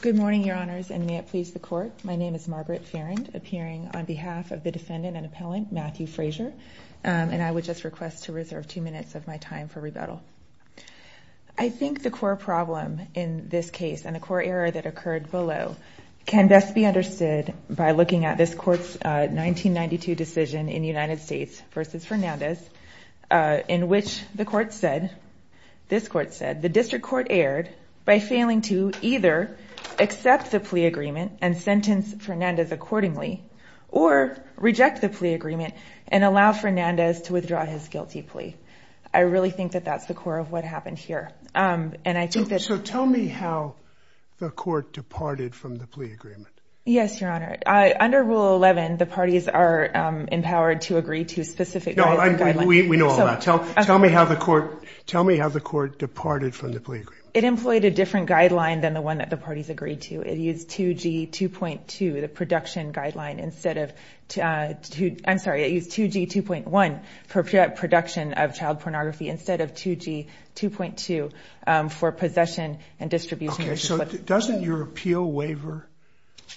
Good morning, Your Honors, and may it please the Court. My name is Margaret Farrand, appearing on behalf of the defendant and appellant, Matthew Frazer, and I would just request to reserve two minutes of my time for rebuttal. I think the core problem in this case, and the core error that occurred below, can best be understood by looking at this Court's 1992 decision in United States v. Fernandez, in which the Court said, this Court said, the District Court erred by failing to either accept the plea agreement and sentence Fernandez accordingly, or reject the plea agreement and allow Fernandez to withdraw his guilty plea. I really think that that's the core of what happened here, and I think that... So tell me how the Court departed from the plea agreement. Yes, Your Honor. Under Rule 11, the parties are empowered to agree to specific... No, we know all that. Tell me how the Court departed from the plea agreement. It employed a different guideline than the one that the parties agreed to. It used 2G 2.2, the production guideline, instead of... I'm sorry, it used 2G 2.1 for production of child pornography, instead of 2G 2.2 for possession and distribution... Okay, so doesn't your appeal waiver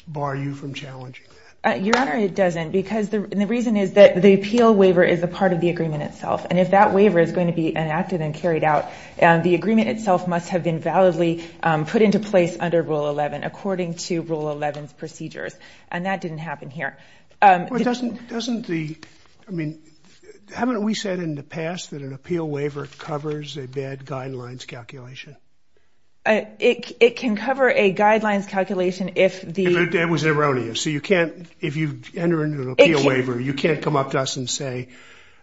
bar you from challenging that? Your Honor, it doesn't, because the reason is that the appeal waiver is a part of the agreement itself, and if that waiver is going to be enacted and carried out, the agreement itself must have been validly put into place under Rule 11, according to Rule 11's procedures, and that didn't happen here. Well, doesn't the... I mean, haven't we said in the past that an appeal waiver covers a valid guidelines calculation? It can cover a guidelines calculation if the... It was erroneous, so you can't... If you enter into an appeal waiver, you can't come up to us and say,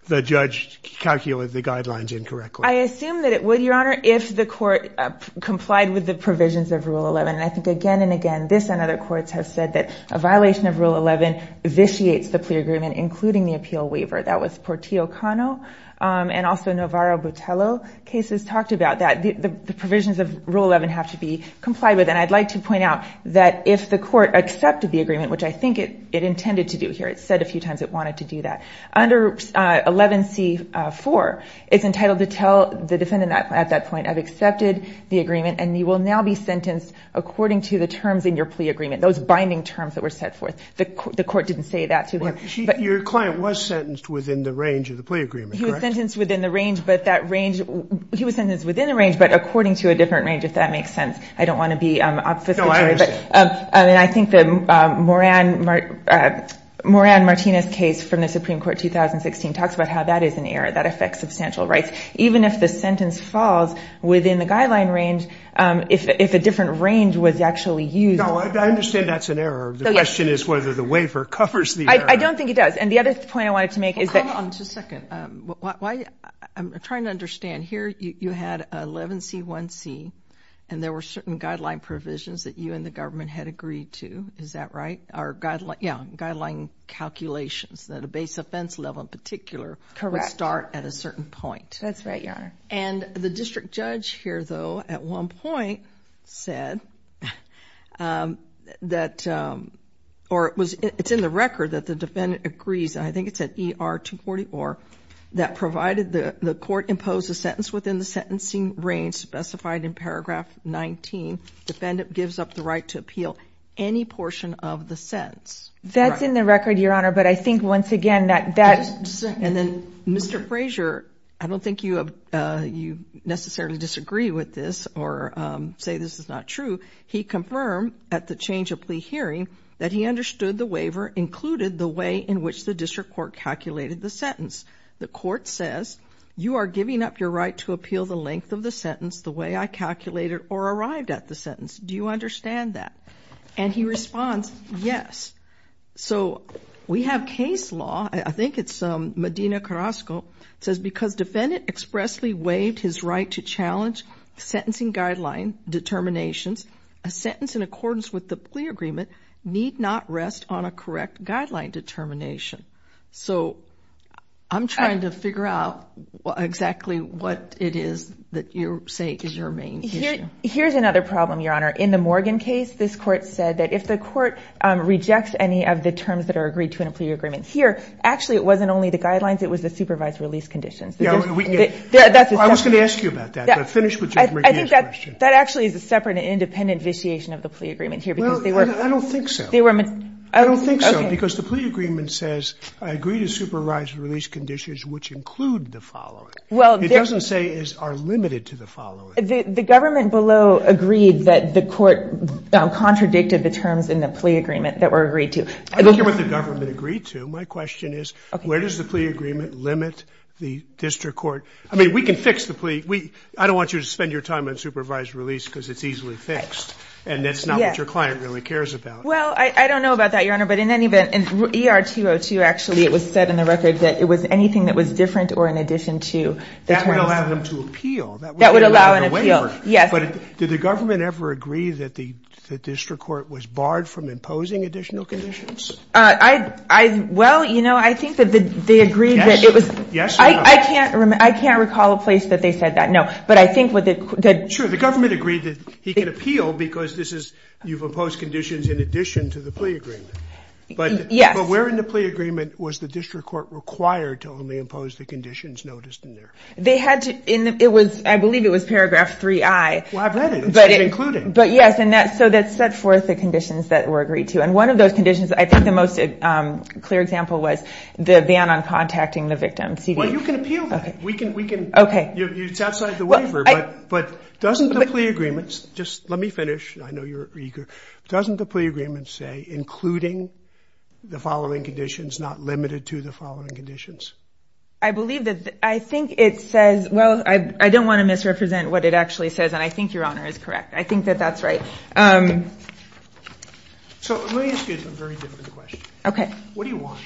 the judge calculated the guidelines incorrectly. I assume that it would, Your Honor, if the Court complied with the provisions of Rule 11, and I think again and again, this and other courts have said that a violation of Rule 11 vitiates the plea agreement, including the appeal waiver. That was Portillo Cano, and also Navarro Botello cases talked about that. The provisions of Rule 11 have to be complied with, and I'd like to point out that if the Court accepted the agreement, which I think it intended to do here, it said a few times it wanted to do that, under 11c4, it's entitled to tell the defendant at that point, I've accepted the agreement, and you will now be sentenced according to the terms in your plea agreement, those binding terms that were set forth. The Court didn't say that to them. Your client was sentenced within the range of the plea agreement, correct? He was sentenced within the range, but that range... He was sentenced within the range, but according to a different range, if that makes sense. I don't want to be obfuscatory, but I think that Moran Martinez's case from the Supreme Court 2016 talks about how that is an error that affects substantial rights. Even if the sentence falls within the guideline range, if a different range was actually used... No, I understand that's an error. The question is whether the waiver covers the error. I don't think it does, and the other point I wanted to make is that... Hold on just a second. I'm trying to understand here, you had 11c1c, and there were certain guideline provisions that you and the government had agreed to, is that right? Guideline calculations that a base offense level in particular would start at a certain point. That's right, Your Honor. The district judge here, though, at one point said that... It's in the record that the defendant agrees, and I think it's at ER 244, that provided the court impose a sentence within the sentencing range specified in paragraph 19, defendant gives up the right to appeal any portion of the sentence. That's in the record, Your Honor, but I think once again that that's... And then, Mr. Frazier, I don't think you necessarily disagree with this or say this is not true. He confirmed at the change of plea hearing that he understood the waiver included the way in which the district court calculated the sentence. The court says, you are giving up your right to appeal the length of the sentence the way I calculated or arrived at the sentence. Do you understand that? And he responds, yes. So we have case law, I think it's Medina Carrasco, says because defendant expressly waived his right to challenge sentencing guideline determinations, a sentence in accordance with the plea agreement need not rest on a correct guideline determination. So I'm trying to figure out exactly what it is that you're saying is your main issue. Here's another problem, Your Honor. In the Morgan case, this court said that if the court rejects any of the terms that are agreed to in a plea agreement here, actually it wasn't only the guidelines, it was the supervised release conditions. I was going to ask you about that, but finish with your Morgan case question. That actually is a separate and independent vitiation of the plea agreement here because they were... Well, I don't think so. I don't think so because the plea agreement says, I agree to supervise release conditions which include the following. It doesn't say are limited to the following. The government below agreed that the court contradicted the terms in the plea agreement that were agreed to. I don't hear what the government agreed to. My question is, where does the plea agreement limit the district court? I mean, we can fix the plea. I don't want you to spend your time on supervised release because it's easily fixed and that's not what your client really cares about. Well, I don't know about that, Your Honor, but in any event, in ER 202, actually it was said in the record that it was anything that was different or in addition to the terms... That would allow him to appeal. That would allow him to appeal, yes. But did the government ever agree that the district court was barred from imposing additional conditions? Well, you know, I think that they agreed that it was... Yes or no? I can't recall a place that they said that, no. But I think that... Sure, the government agreed that he can appeal because this is, you've imposed conditions in addition to the plea agreement. Yes. But where in the plea agreement was the district court required to only impose the conditions noticed in there? They had to... It was, I believe it was paragraph 3i. Well, I've read it. It said including. But yes, and so that set forth the conditions that were agreed to. And one of those conditions, I think the most clear example was the ban on contacting the victim. Well, you can appeal that. We can... Okay. It's outside the waiver, but doesn't the plea agreements... Just let me finish. I know you're eager. Doesn't the plea agreement say including the following conditions, not limited to the following conditions? I believe that, I think it says, well, I don't want to misrepresent what it actually says, and I think Your Honor is correct. I think that that's right. So let me ask you a very different question. Okay. What do you want?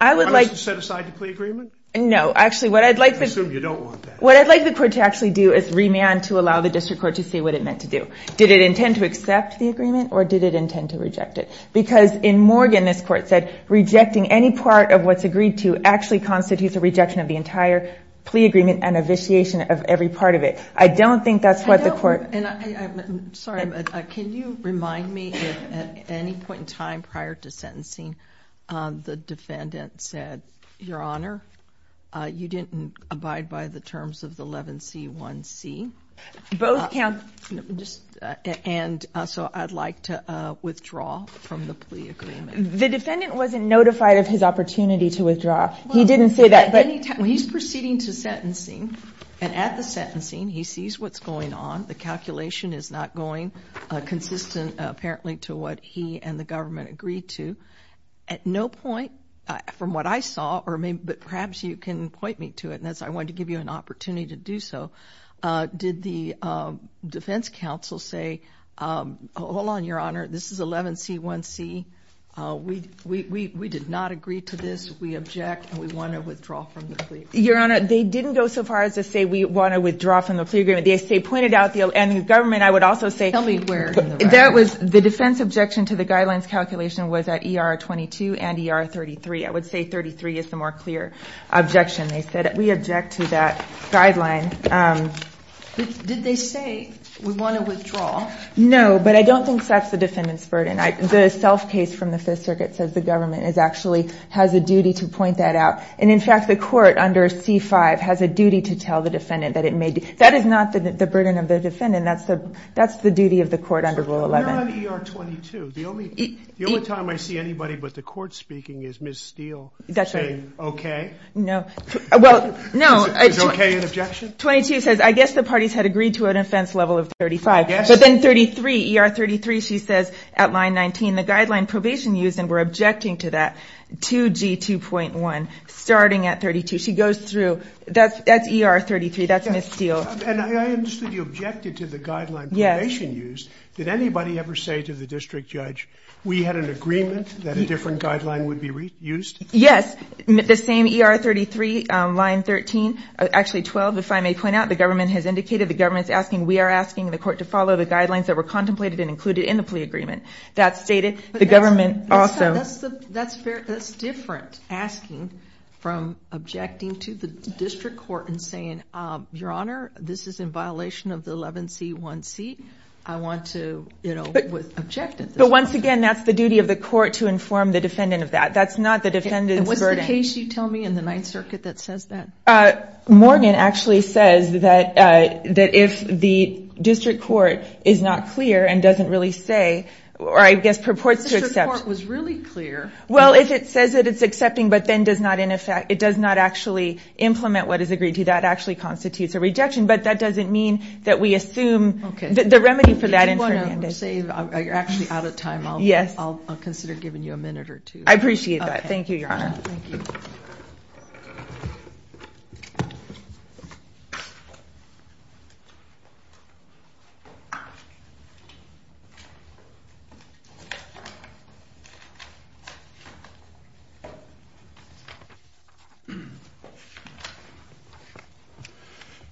I would like... Do you want us to set aside the plea agreement? No, actually what I'd like... I assume you don't want that. What I'd like the court to actually do is remand to allow the district court to see what it meant to do. Did it intend to accept the agreement or did it intend to reject it? Because in Morgan, this court said, rejecting any part of what's agreed to actually constitutes a rejection of the entire plea agreement and a vitiation of every part of it. I don't think that's what the court... I'm sorry, but can you remind me if at any point in time prior to sentencing, the defendant said, Your Honor, you didn't abide by the terms of the 11C1C? Both counts... And so I'd like to withdraw from the plea agreement. The defendant wasn't notified of his opportunity to withdraw. He didn't say that, but... Well, at any time... He's proceeding to sentencing, and at the sentencing, he sees what's going on. The calculation is not going consistent, apparently, to what he and the government agreed to. At no point, from what I saw, but perhaps you can point me to it, and I wanted to give you an opportunity to do so, did the defense counsel say, Hold on, Your Honor. This is 11C1C. We did not agree to this. We object, and we want to withdraw from the plea agreement. Your Honor, they didn't go so far as to say we want to withdraw from the plea agreement. They pointed out... And the government, I would also say... Tell me where in the record. That was... The defense objection to the guidelines calculation was at ER22 and ER33. I would say 33 is the more clear objection. They said, We object to that guideline. Did they say, We want to withdraw? No, but I don't think that's the defendant's burden. The self-case from the Fifth Circuit says the government actually has a duty to point that out, and in fact, the court under C5 has a duty to tell the defendant that it may... That is not the burden of the defendant. That's the duty of the court under Rule 11. We're on ER22. The only time I see anybody but the court speaking is Ms. Steele saying, Okay? No. Well, no. Is okay an objection? 22 says, I guess the parties had agreed to a defense level of 35, but then 33, ER33, she says at line 19, the guideline probation used, and we're objecting to that, to G2.1, starting at 32. She goes through. That's ER33. That's Ms. Steele. And I understood you objected to the guideline probation used. Did anybody ever say to the district judge, We had an agreement that a different guideline would be used? Yes. The same ER33, line 13, actually 12, if I may point out, the government has indicated, the government's asking, we are asking the court to follow the guidelines that were contemplated and included in the plea agreement. That's stated. The government also... That's different asking from objecting to the district court and saying, Your Honor, this is in violation of the 11C1C. I want to, you know, object at this point. But once again, that's the duty of the court to inform the defendant of that. That's not the defendant's burden. And what's the case you tell me in the Ninth Circuit that says that? Morgan actually says that if the district court is not clear and doesn't really say, or I guess purports to accept... If the district court was really clear... Well, if it says that it's accepting but then does not actually implement what is agreed to, that actually constitutes a rejection. But that doesn't mean that we assume the remedy for that in Fernandez. If you want to save... You're actually out of time. I'll consider giving you a minute or two. I appreciate that. Thank you, Your Honor.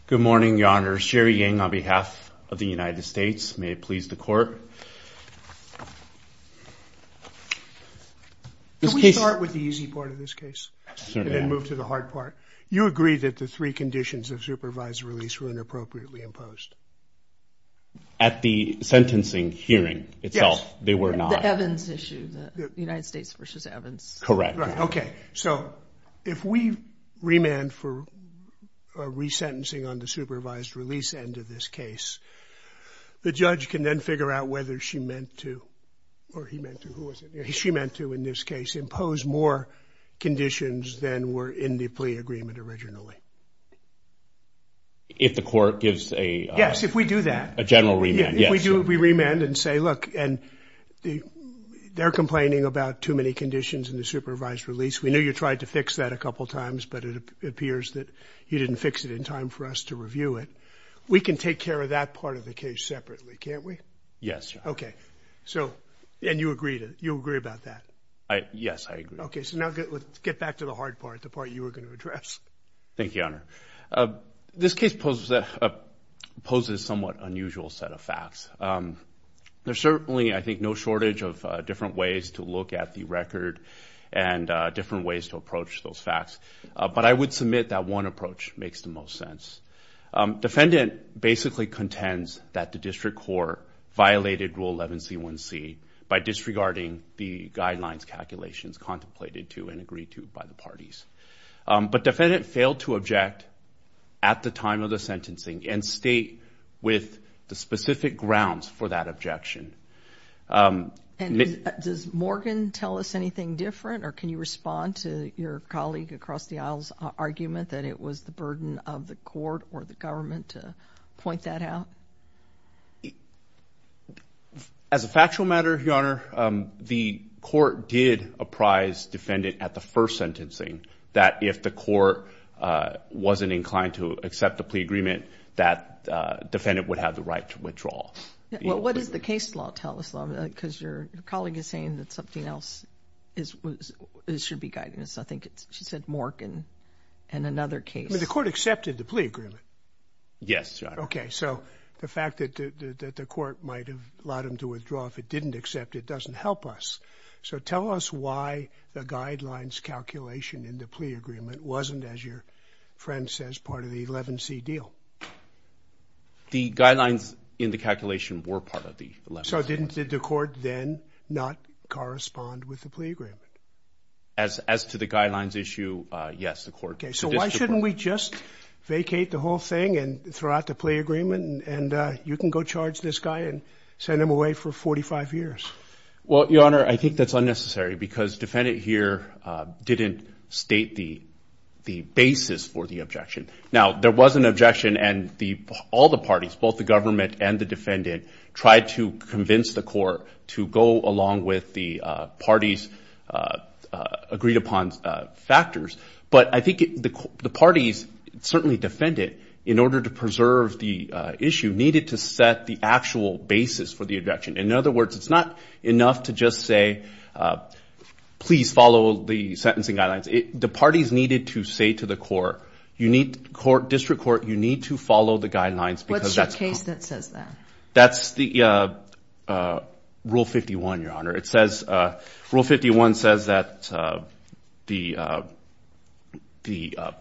Good morning, Your Honor. Sherry Ying on behalf of the United States. May it please the court. Can we start with the easy part of this case and then move to the hard part? You agree that the three conditions of supervised release were inappropriately imposed? At the sentencing hearing itself, they were not. The Evans issue, the United States v. Evans. Correct. Right. Okay. So if we remand for a resentencing on the supervised release end of this case, the judge can then figure out whether she meant to, or he meant to, who was it? She meant to, in this case, impose more conditions than were in the plea agreement originally. If the court gives a... Yes, if we do that. A general remand. Yes. We remand and say, look, and they're complaining about too many conditions in the supervised release. We knew you tried to fix that a couple of times, but it appears that you didn't fix it in time for us to review it. We can take care of that part of the case separately, can't we? Yes, Your Honor. Okay. And you agree about that? Yes, I agree. Okay. So now let's get back to the hard part, the part you were going to address. Thank you, Your Honor. This case poses a somewhat unusual set of facts. There's certainly, I think, no shortage of different ways to look at the record and different ways to approach those facts. But I would submit that one approach makes the most sense. Defendant basically contends that the district court violated Rule 11C1C by disregarding the guidelines calculations contemplated to and agreed to by the parties. But defendant failed to object at the time of the sentencing and state with the specific grounds for that objection. And does Morgan tell us anything different, or can you respond to your colleague across the aisle's argument that it was the burden of the court or the government to point that out? As a factual matter, Your Honor, the court did apprise defendant at the first sentencing that if the court wasn't inclined to accept the plea agreement, that defendant would have the right to withdraw. Well, what does the case law tell us, though? Because your colleague is saying that something else should be guiding us. I think she said Mork and another case. But the court accepted the plea agreement? Yes, Your Honor. Okay. So the fact that the court might have allowed him to withdraw if it didn't accept, it doesn't help us. So tell us why the guidelines calculation in the plea agreement wasn't, as your friend says, part of the 11C deal. The guidelines in the calculation were part of the 11C. So didn't the court then not correspond with the plea agreement? As to the guidelines issue, yes, the court. Okay. So why shouldn't we just vacate the whole thing and throw out the plea agreement and you can go charge this guy and send him away for 45 years? Well, Your Honor, I think that's unnecessary because defendant here didn't state the basis for the objection. Now, there was an objection and all the parties, both the government and the defendant, tried to convince the court to go along with the parties' agreed upon factors. But I think the parties, certainly defendant, in order to preserve the issue needed to set the actual basis for the objection. In other words, it's not enough to just say, please follow the sentencing guidelines. The parties needed to say to the court, you need to court, district court, you need to follow the guidelines. What's your case that says that? That's the Rule 51, Your Honor. It says, Rule 51 says that the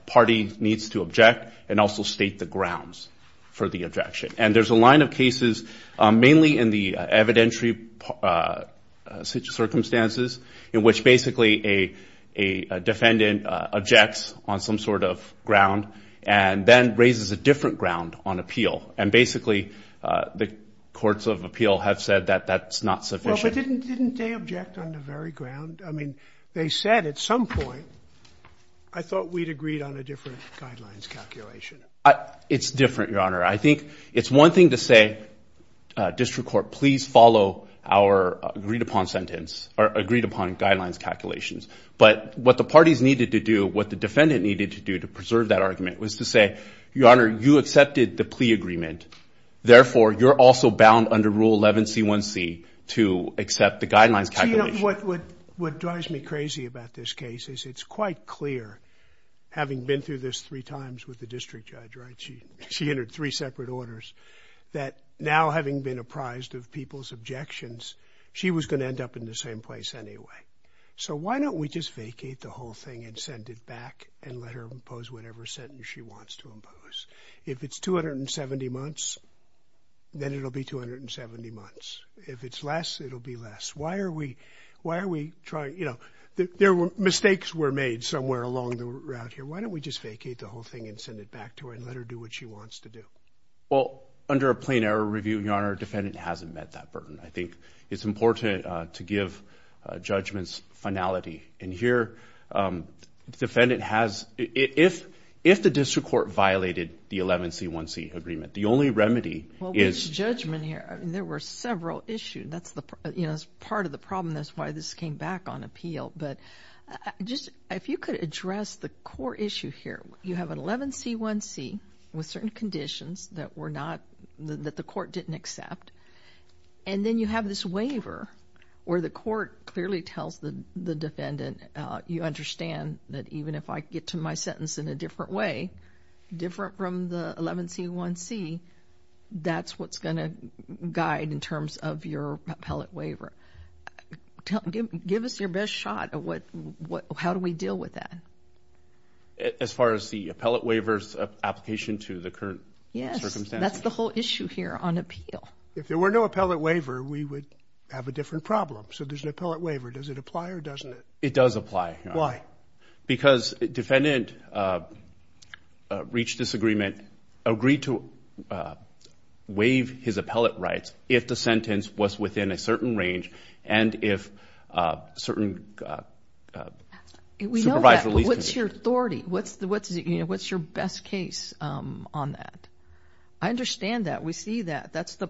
party needs to object and also state the grounds for the objection. And there's a line of cases, mainly in the evidentiary circumstances, in which basically a defendant objects on some sort of ground and then raises a different ground on appeal. And basically, the courts of appeal have said that that's not sufficient. But didn't they object on the very ground? I mean, they said at some point, I thought we'd agreed on a different guidelines calculation. It's different, Your Honor. I think it's one thing to say, district court, please follow agreed upon guidelines calculations. But what the parties needed to do, what the defendant needed to do to preserve that argument was to say, Your Honor, you accepted the plea agreement. Therefore, you're also bound under Rule 11C1C to accept the guidelines calculation. What drives me crazy about this case is it's quite clear, having been through this three times with the district judge, she entered three separate orders, that now having been of people's objections, she was going to end up in the same place anyway. So why don't we just vacate the whole thing and send it back and let her impose whatever sentence she wants to impose? If it's 270 months, then it'll be 270 months. If it's less, it'll be less. Why are we trying? Mistakes were made somewhere along the route here. Why don't we just vacate the whole thing and send it back to her and let her do what she wants to do? Well, under a plain error review, Your Honor, defendant hasn't met that burden. I think it's important to give judgments finality. And here, defendant has... If the district court violated the 11C1C agreement, the only remedy is... Well, there's judgment here. There were several issues. That's part of the problem. That's why this came back on appeal. But just... If you could address the core issue here. You have an 11C1C with certain conditions that were not... That the court didn't accept. And then you have this waiver where the court clearly tells the defendant, you understand that even if I get to my sentence in a different way, different from the 11C1C, that's what's going to guide in terms of your appellate waiver. Tell... Give us your best shot at what... How do we deal with that? As far as the appellate waiver's application to the current circumstances? Yes. That's the whole issue here on appeal. If there were no appellate waiver, we would have a different problem. So there's an appellate waiver. Does it apply or doesn't it? It does apply, Your Honor. Why? Because defendant reached this agreement, agreed to waive his appellate rights if the and if certain... We know that, but what's your authority? What's your best case on that? I understand that. We see that. That's the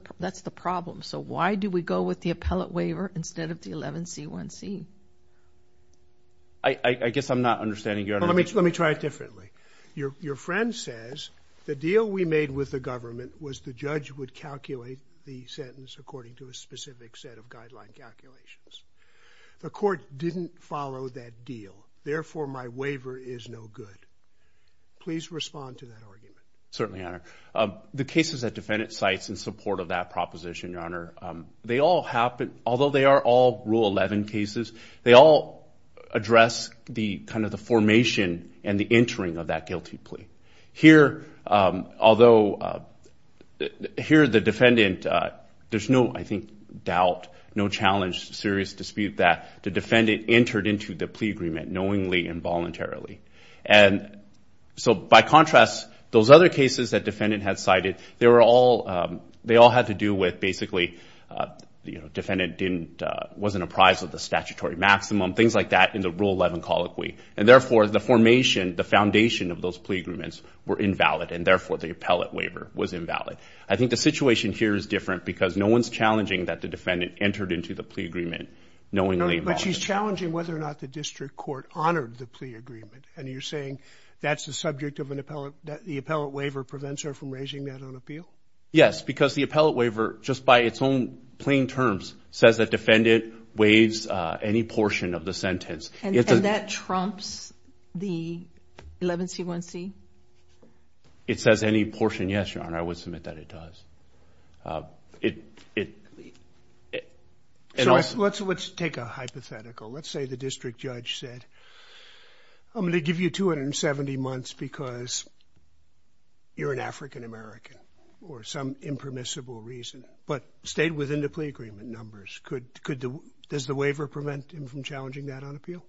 problem. So why do we go with the appellate waiver instead of the 11C1C? I guess I'm not understanding, Your Honor. Let me try it differently. Your friend says the deal we made with the government was the judge would calculate the sentence according to a specific set of guideline calculations. The court didn't follow that deal. Therefore, my waiver is no good. Please respond to that argument. Certainly, Your Honor. The cases that defendant cites in support of that proposition, Your Honor, they all happen... Although they are all Rule 11 cases, they all address the kind of the formation and the entering of that guilty plea. Here, although... Here, the defendant... There's no, I think, doubt, no challenge, serious dispute that the defendant entered into the plea agreement knowingly and voluntarily. So by contrast, those other cases that defendant had cited, they all had to do with basically defendant wasn't apprised of the statutory maximum, things like that, in the Rule 11 colloquy. And therefore, the formation, the foundation of those plea agreements were invalid. And therefore, the appellate waiver was invalid. I think the situation here is different because no one's challenging that the defendant entered into the plea agreement knowingly and voluntarily. But she's challenging whether or not the district court honored the plea agreement. And you're saying that's the subject of an appellate... The appellate waiver prevents her from raising that on appeal? Yes, because the appellate waiver, just by its own plain terms, says that defendant waives any portion of the sentence. And that trumps the 11C1C? It says any portion, yes, Your Honor. I would submit that it does. Let's take a hypothetical. Let's say the district judge said, I'm going to give you 270 months because you're an African-American or some impermissible reason, but stayed within the plea agreement numbers. Does the waiver prevent him from challenging that on appeal?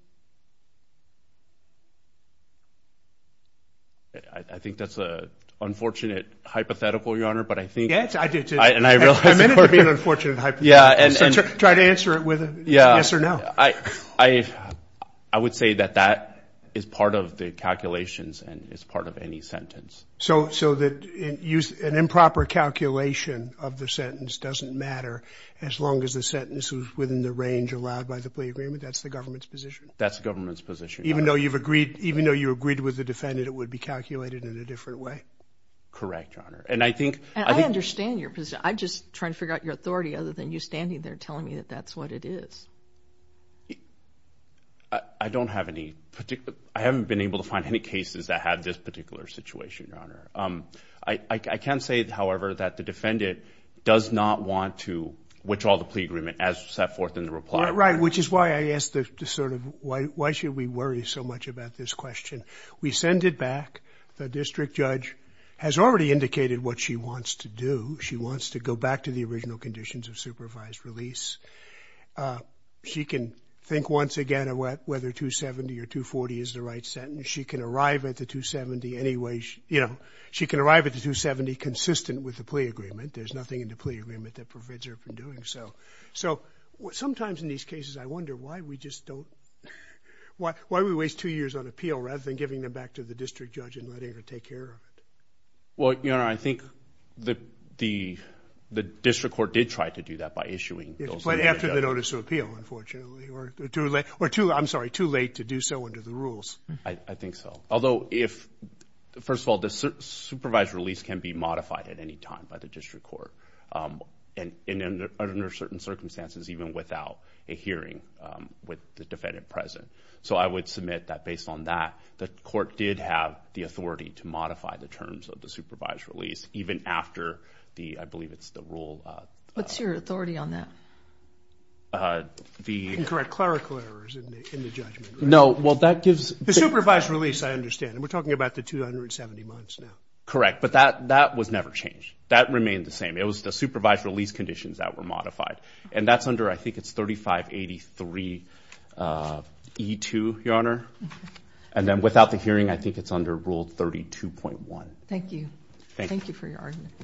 I think that's an unfortunate hypothetical, Your Honor, but I think... Yes, I do too. And I realize... I meant it to be an unfortunate hypothetical. Try to answer it with a yes or no. I would say that that is part of the calculations and is part of any sentence. So an improper calculation of the sentence doesn't matter as long as the sentence was within the range allowed by the plea agreement? That's the government's position? That's the government's position, Your Honor. Even though you agreed with the defendant, it would be calculated in a different way? Correct, Your Honor. And I think... They're telling me that that's what it is. I don't have any particular... I haven't been able to find any cases that had this particular situation, Your Honor. I can say, however, that the defendant does not want to withdraw the plea agreement as set forth in the reply. Right, which is why I asked the sort of... Why should we worry so much about this question? We send it back. The district judge has already indicated what she believes. She can think once again of whether 270 or 240 is the right sentence. She can arrive at the 270 any way... She can arrive at the 270 consistent with the plea agreement. There's nothing in the plea agreement that prevents her from doing so. So sometimes in these cases, I wonder why we just don't... Why do we waste two years on appeal rather than giving them back to the district judge and letting her take care of it? Well, Your Honor, I think the district court did try to do that by issuing... Right after the notice of appeal, unfortunately, or too late... Or too... I'm sorry, too late to do so under the rules. I think so. Although if... First of all, the supervised release can be modified at any time by the district court and under certain circumstances, even without a hearing with the defendant present. So I would submit that based on that, the court did have the authority to modify the terms of the supervised release, even after the... I believe it's the rule... What's your authority on that? Incorrect clerical errors in the judgment. No. Well, that gives... The supervised release, I understand. And we're talking about the 270 months now. Correct. But that was never changed. That remained the same. It was the supervised release conditions that were modified. And that's under... I think it's 3583E2, Your Honor. And then without the hearing, I think it's under Rule 32.1. Thank you. Thank you for your argument.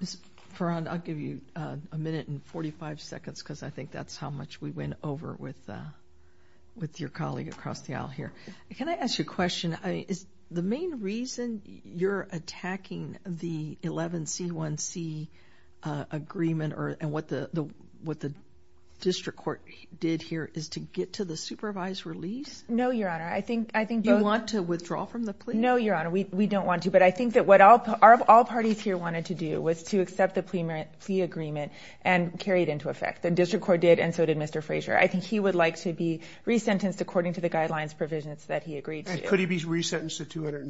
Ms. Perron, I'll give you a minute and 45 seconds because I think that's how much we went over with your colleague across the aisle here. Can I ask you a question? Is the main reason you're attacking the 11C1C agreement and what the district court did here is to get to the supervised release? No, Your Honor. I think... You want to withdraw from the plea? No, Your Honor. We don't want to. But I think that what all parties here wanted to do was to accept the plea agreement and carry it into effect. The district court did, and so did Mr. Frazier. I think he would like to be resentenced according to the guidelines provisions that he agreed to. Could he be sentenced according to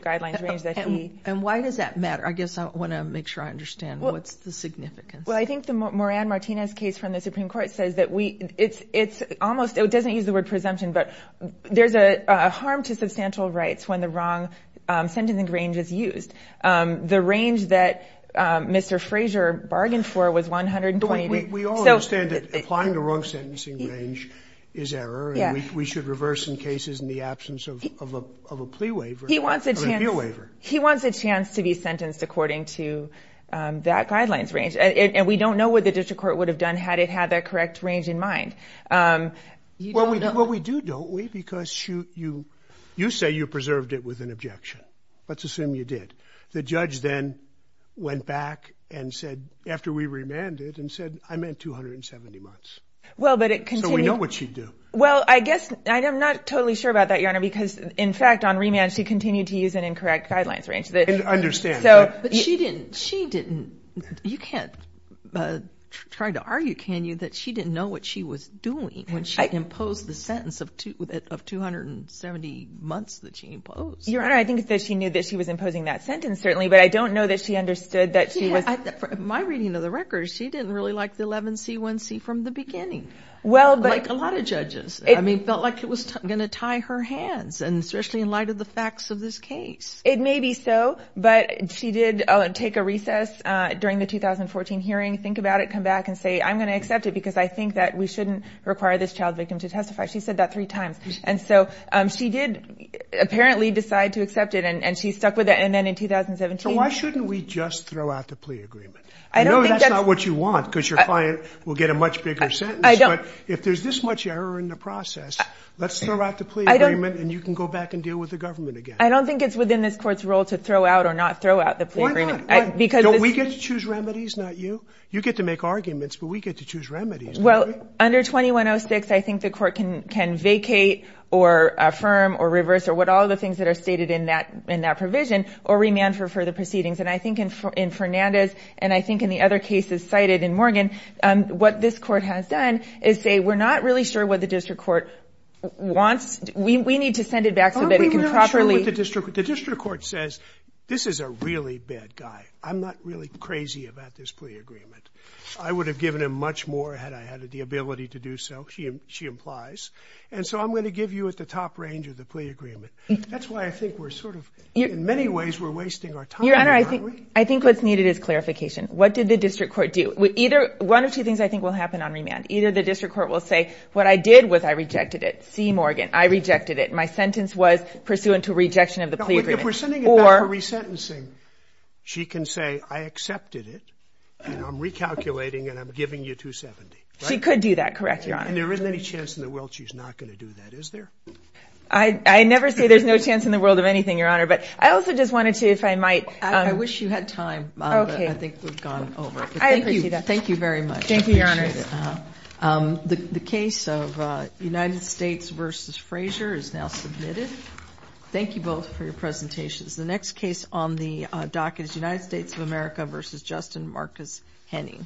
the guidelines range that he... And why does that matter? I guess I want to make sure I understand. What's the significance? Well, I think the Moran-Martinez case from the Supreme Court says that we... It's almost... It doesn't use the word presumption, but there's a harm to substantial rights when the wrong sentencing range is used. The range that Mr. Frazier bargained for was 120... We all understand that applying the wrong sentencing range is error, and we should reverse in cases in the absence of a plea waiver. He wants a chance... He wants a chance to be sentenced according to that guidelines range, and we don't know what the district court would have done had it had that correct range in mind. Well, we do, don't we? Because you say you preserved it with an objection. Let's assume you did. The judge then went back and said, after we remanded, and said, I meant 270 months. So we know what you'd do. Well, I guess... I'm not totally sure about that, Your Honor, because in fact, on remand, she continued to use an incorrect guidelines range. I understand. But she didn't... You can't try to argue, can you, that she didn't know what she was doing when she imposed the sentence of 270 months that she imposed. Your Honor, I think that she knew that she was imposing that sentence, certainly, but I don't know that she understood that she was... My reading of the records, she didn't really like the 11C1C from the beginning, like a lot of judges. I mean, felt like it was going to tie her hands, and especially in light of the facts of this case. It may be so, but she did take a recess during the 2014 hearing, think about it, come back and say, I'm going to accept it because I think that we shouldn't require this child victim to testify. She said that three times, and so she did apparently decide to accept it, and she stuck with it, and then in 2017... So why shouldn't we just throw out the plea agreement? I know that's not what you want because your client will get a much bigger sentence, but if there's this much error in the process, let's throw out the plea agreement and you can go back and deal with the government again. I don't think it's within this court's role to throw out or not throw out the plea agreement. Why not? Don't we get to choose remedies, not you? You get to make arguments, but we get to choose remedies, don't we? Well, under 2106, I think the court can vacate or restate it in that provision, or remand for further proceedings, and I think in Fernandez, and I think in the other cases cited in Morgan, what this court has done is say, we're not really sure what the district court wants. We need to send it back so that it can properly... The district court says, this is a really bad guy. I'm not really crazy about this plea agreement. I would have given him much more had I had the ability to do so, she implies, and so I'm going to give you at the top range of the plea agreement. That's why I think we're sort of, in many ways, we're wasting our time. Your Honor, I think what's needed is clarification. What did the district court do? One of two things I think will happen on remand. Either the district court will say, what I did was I rejected it. See, Morgan, I rejected it. My sentence was pursuant to rejection of the plea agreement. If we're sending it back for resentencing, she can say, I accepted it and I'm recalculating and I'm giving you 270. She could do that, correct, Your Honor? There isn't any chance in the world she's not going to do that, is there? I never say there's no chance in the world of anything, Your Honor, but I also just wanted to, if I might... I wish you had time, but I think we've gone over it. I appreciate that. Thank you very much. Thank you, Your Honor. The case of United States v. Frazier is now submitted. Thank you both for your presentations. The next case on the docket is United States of America v. Justin Marcus Henning.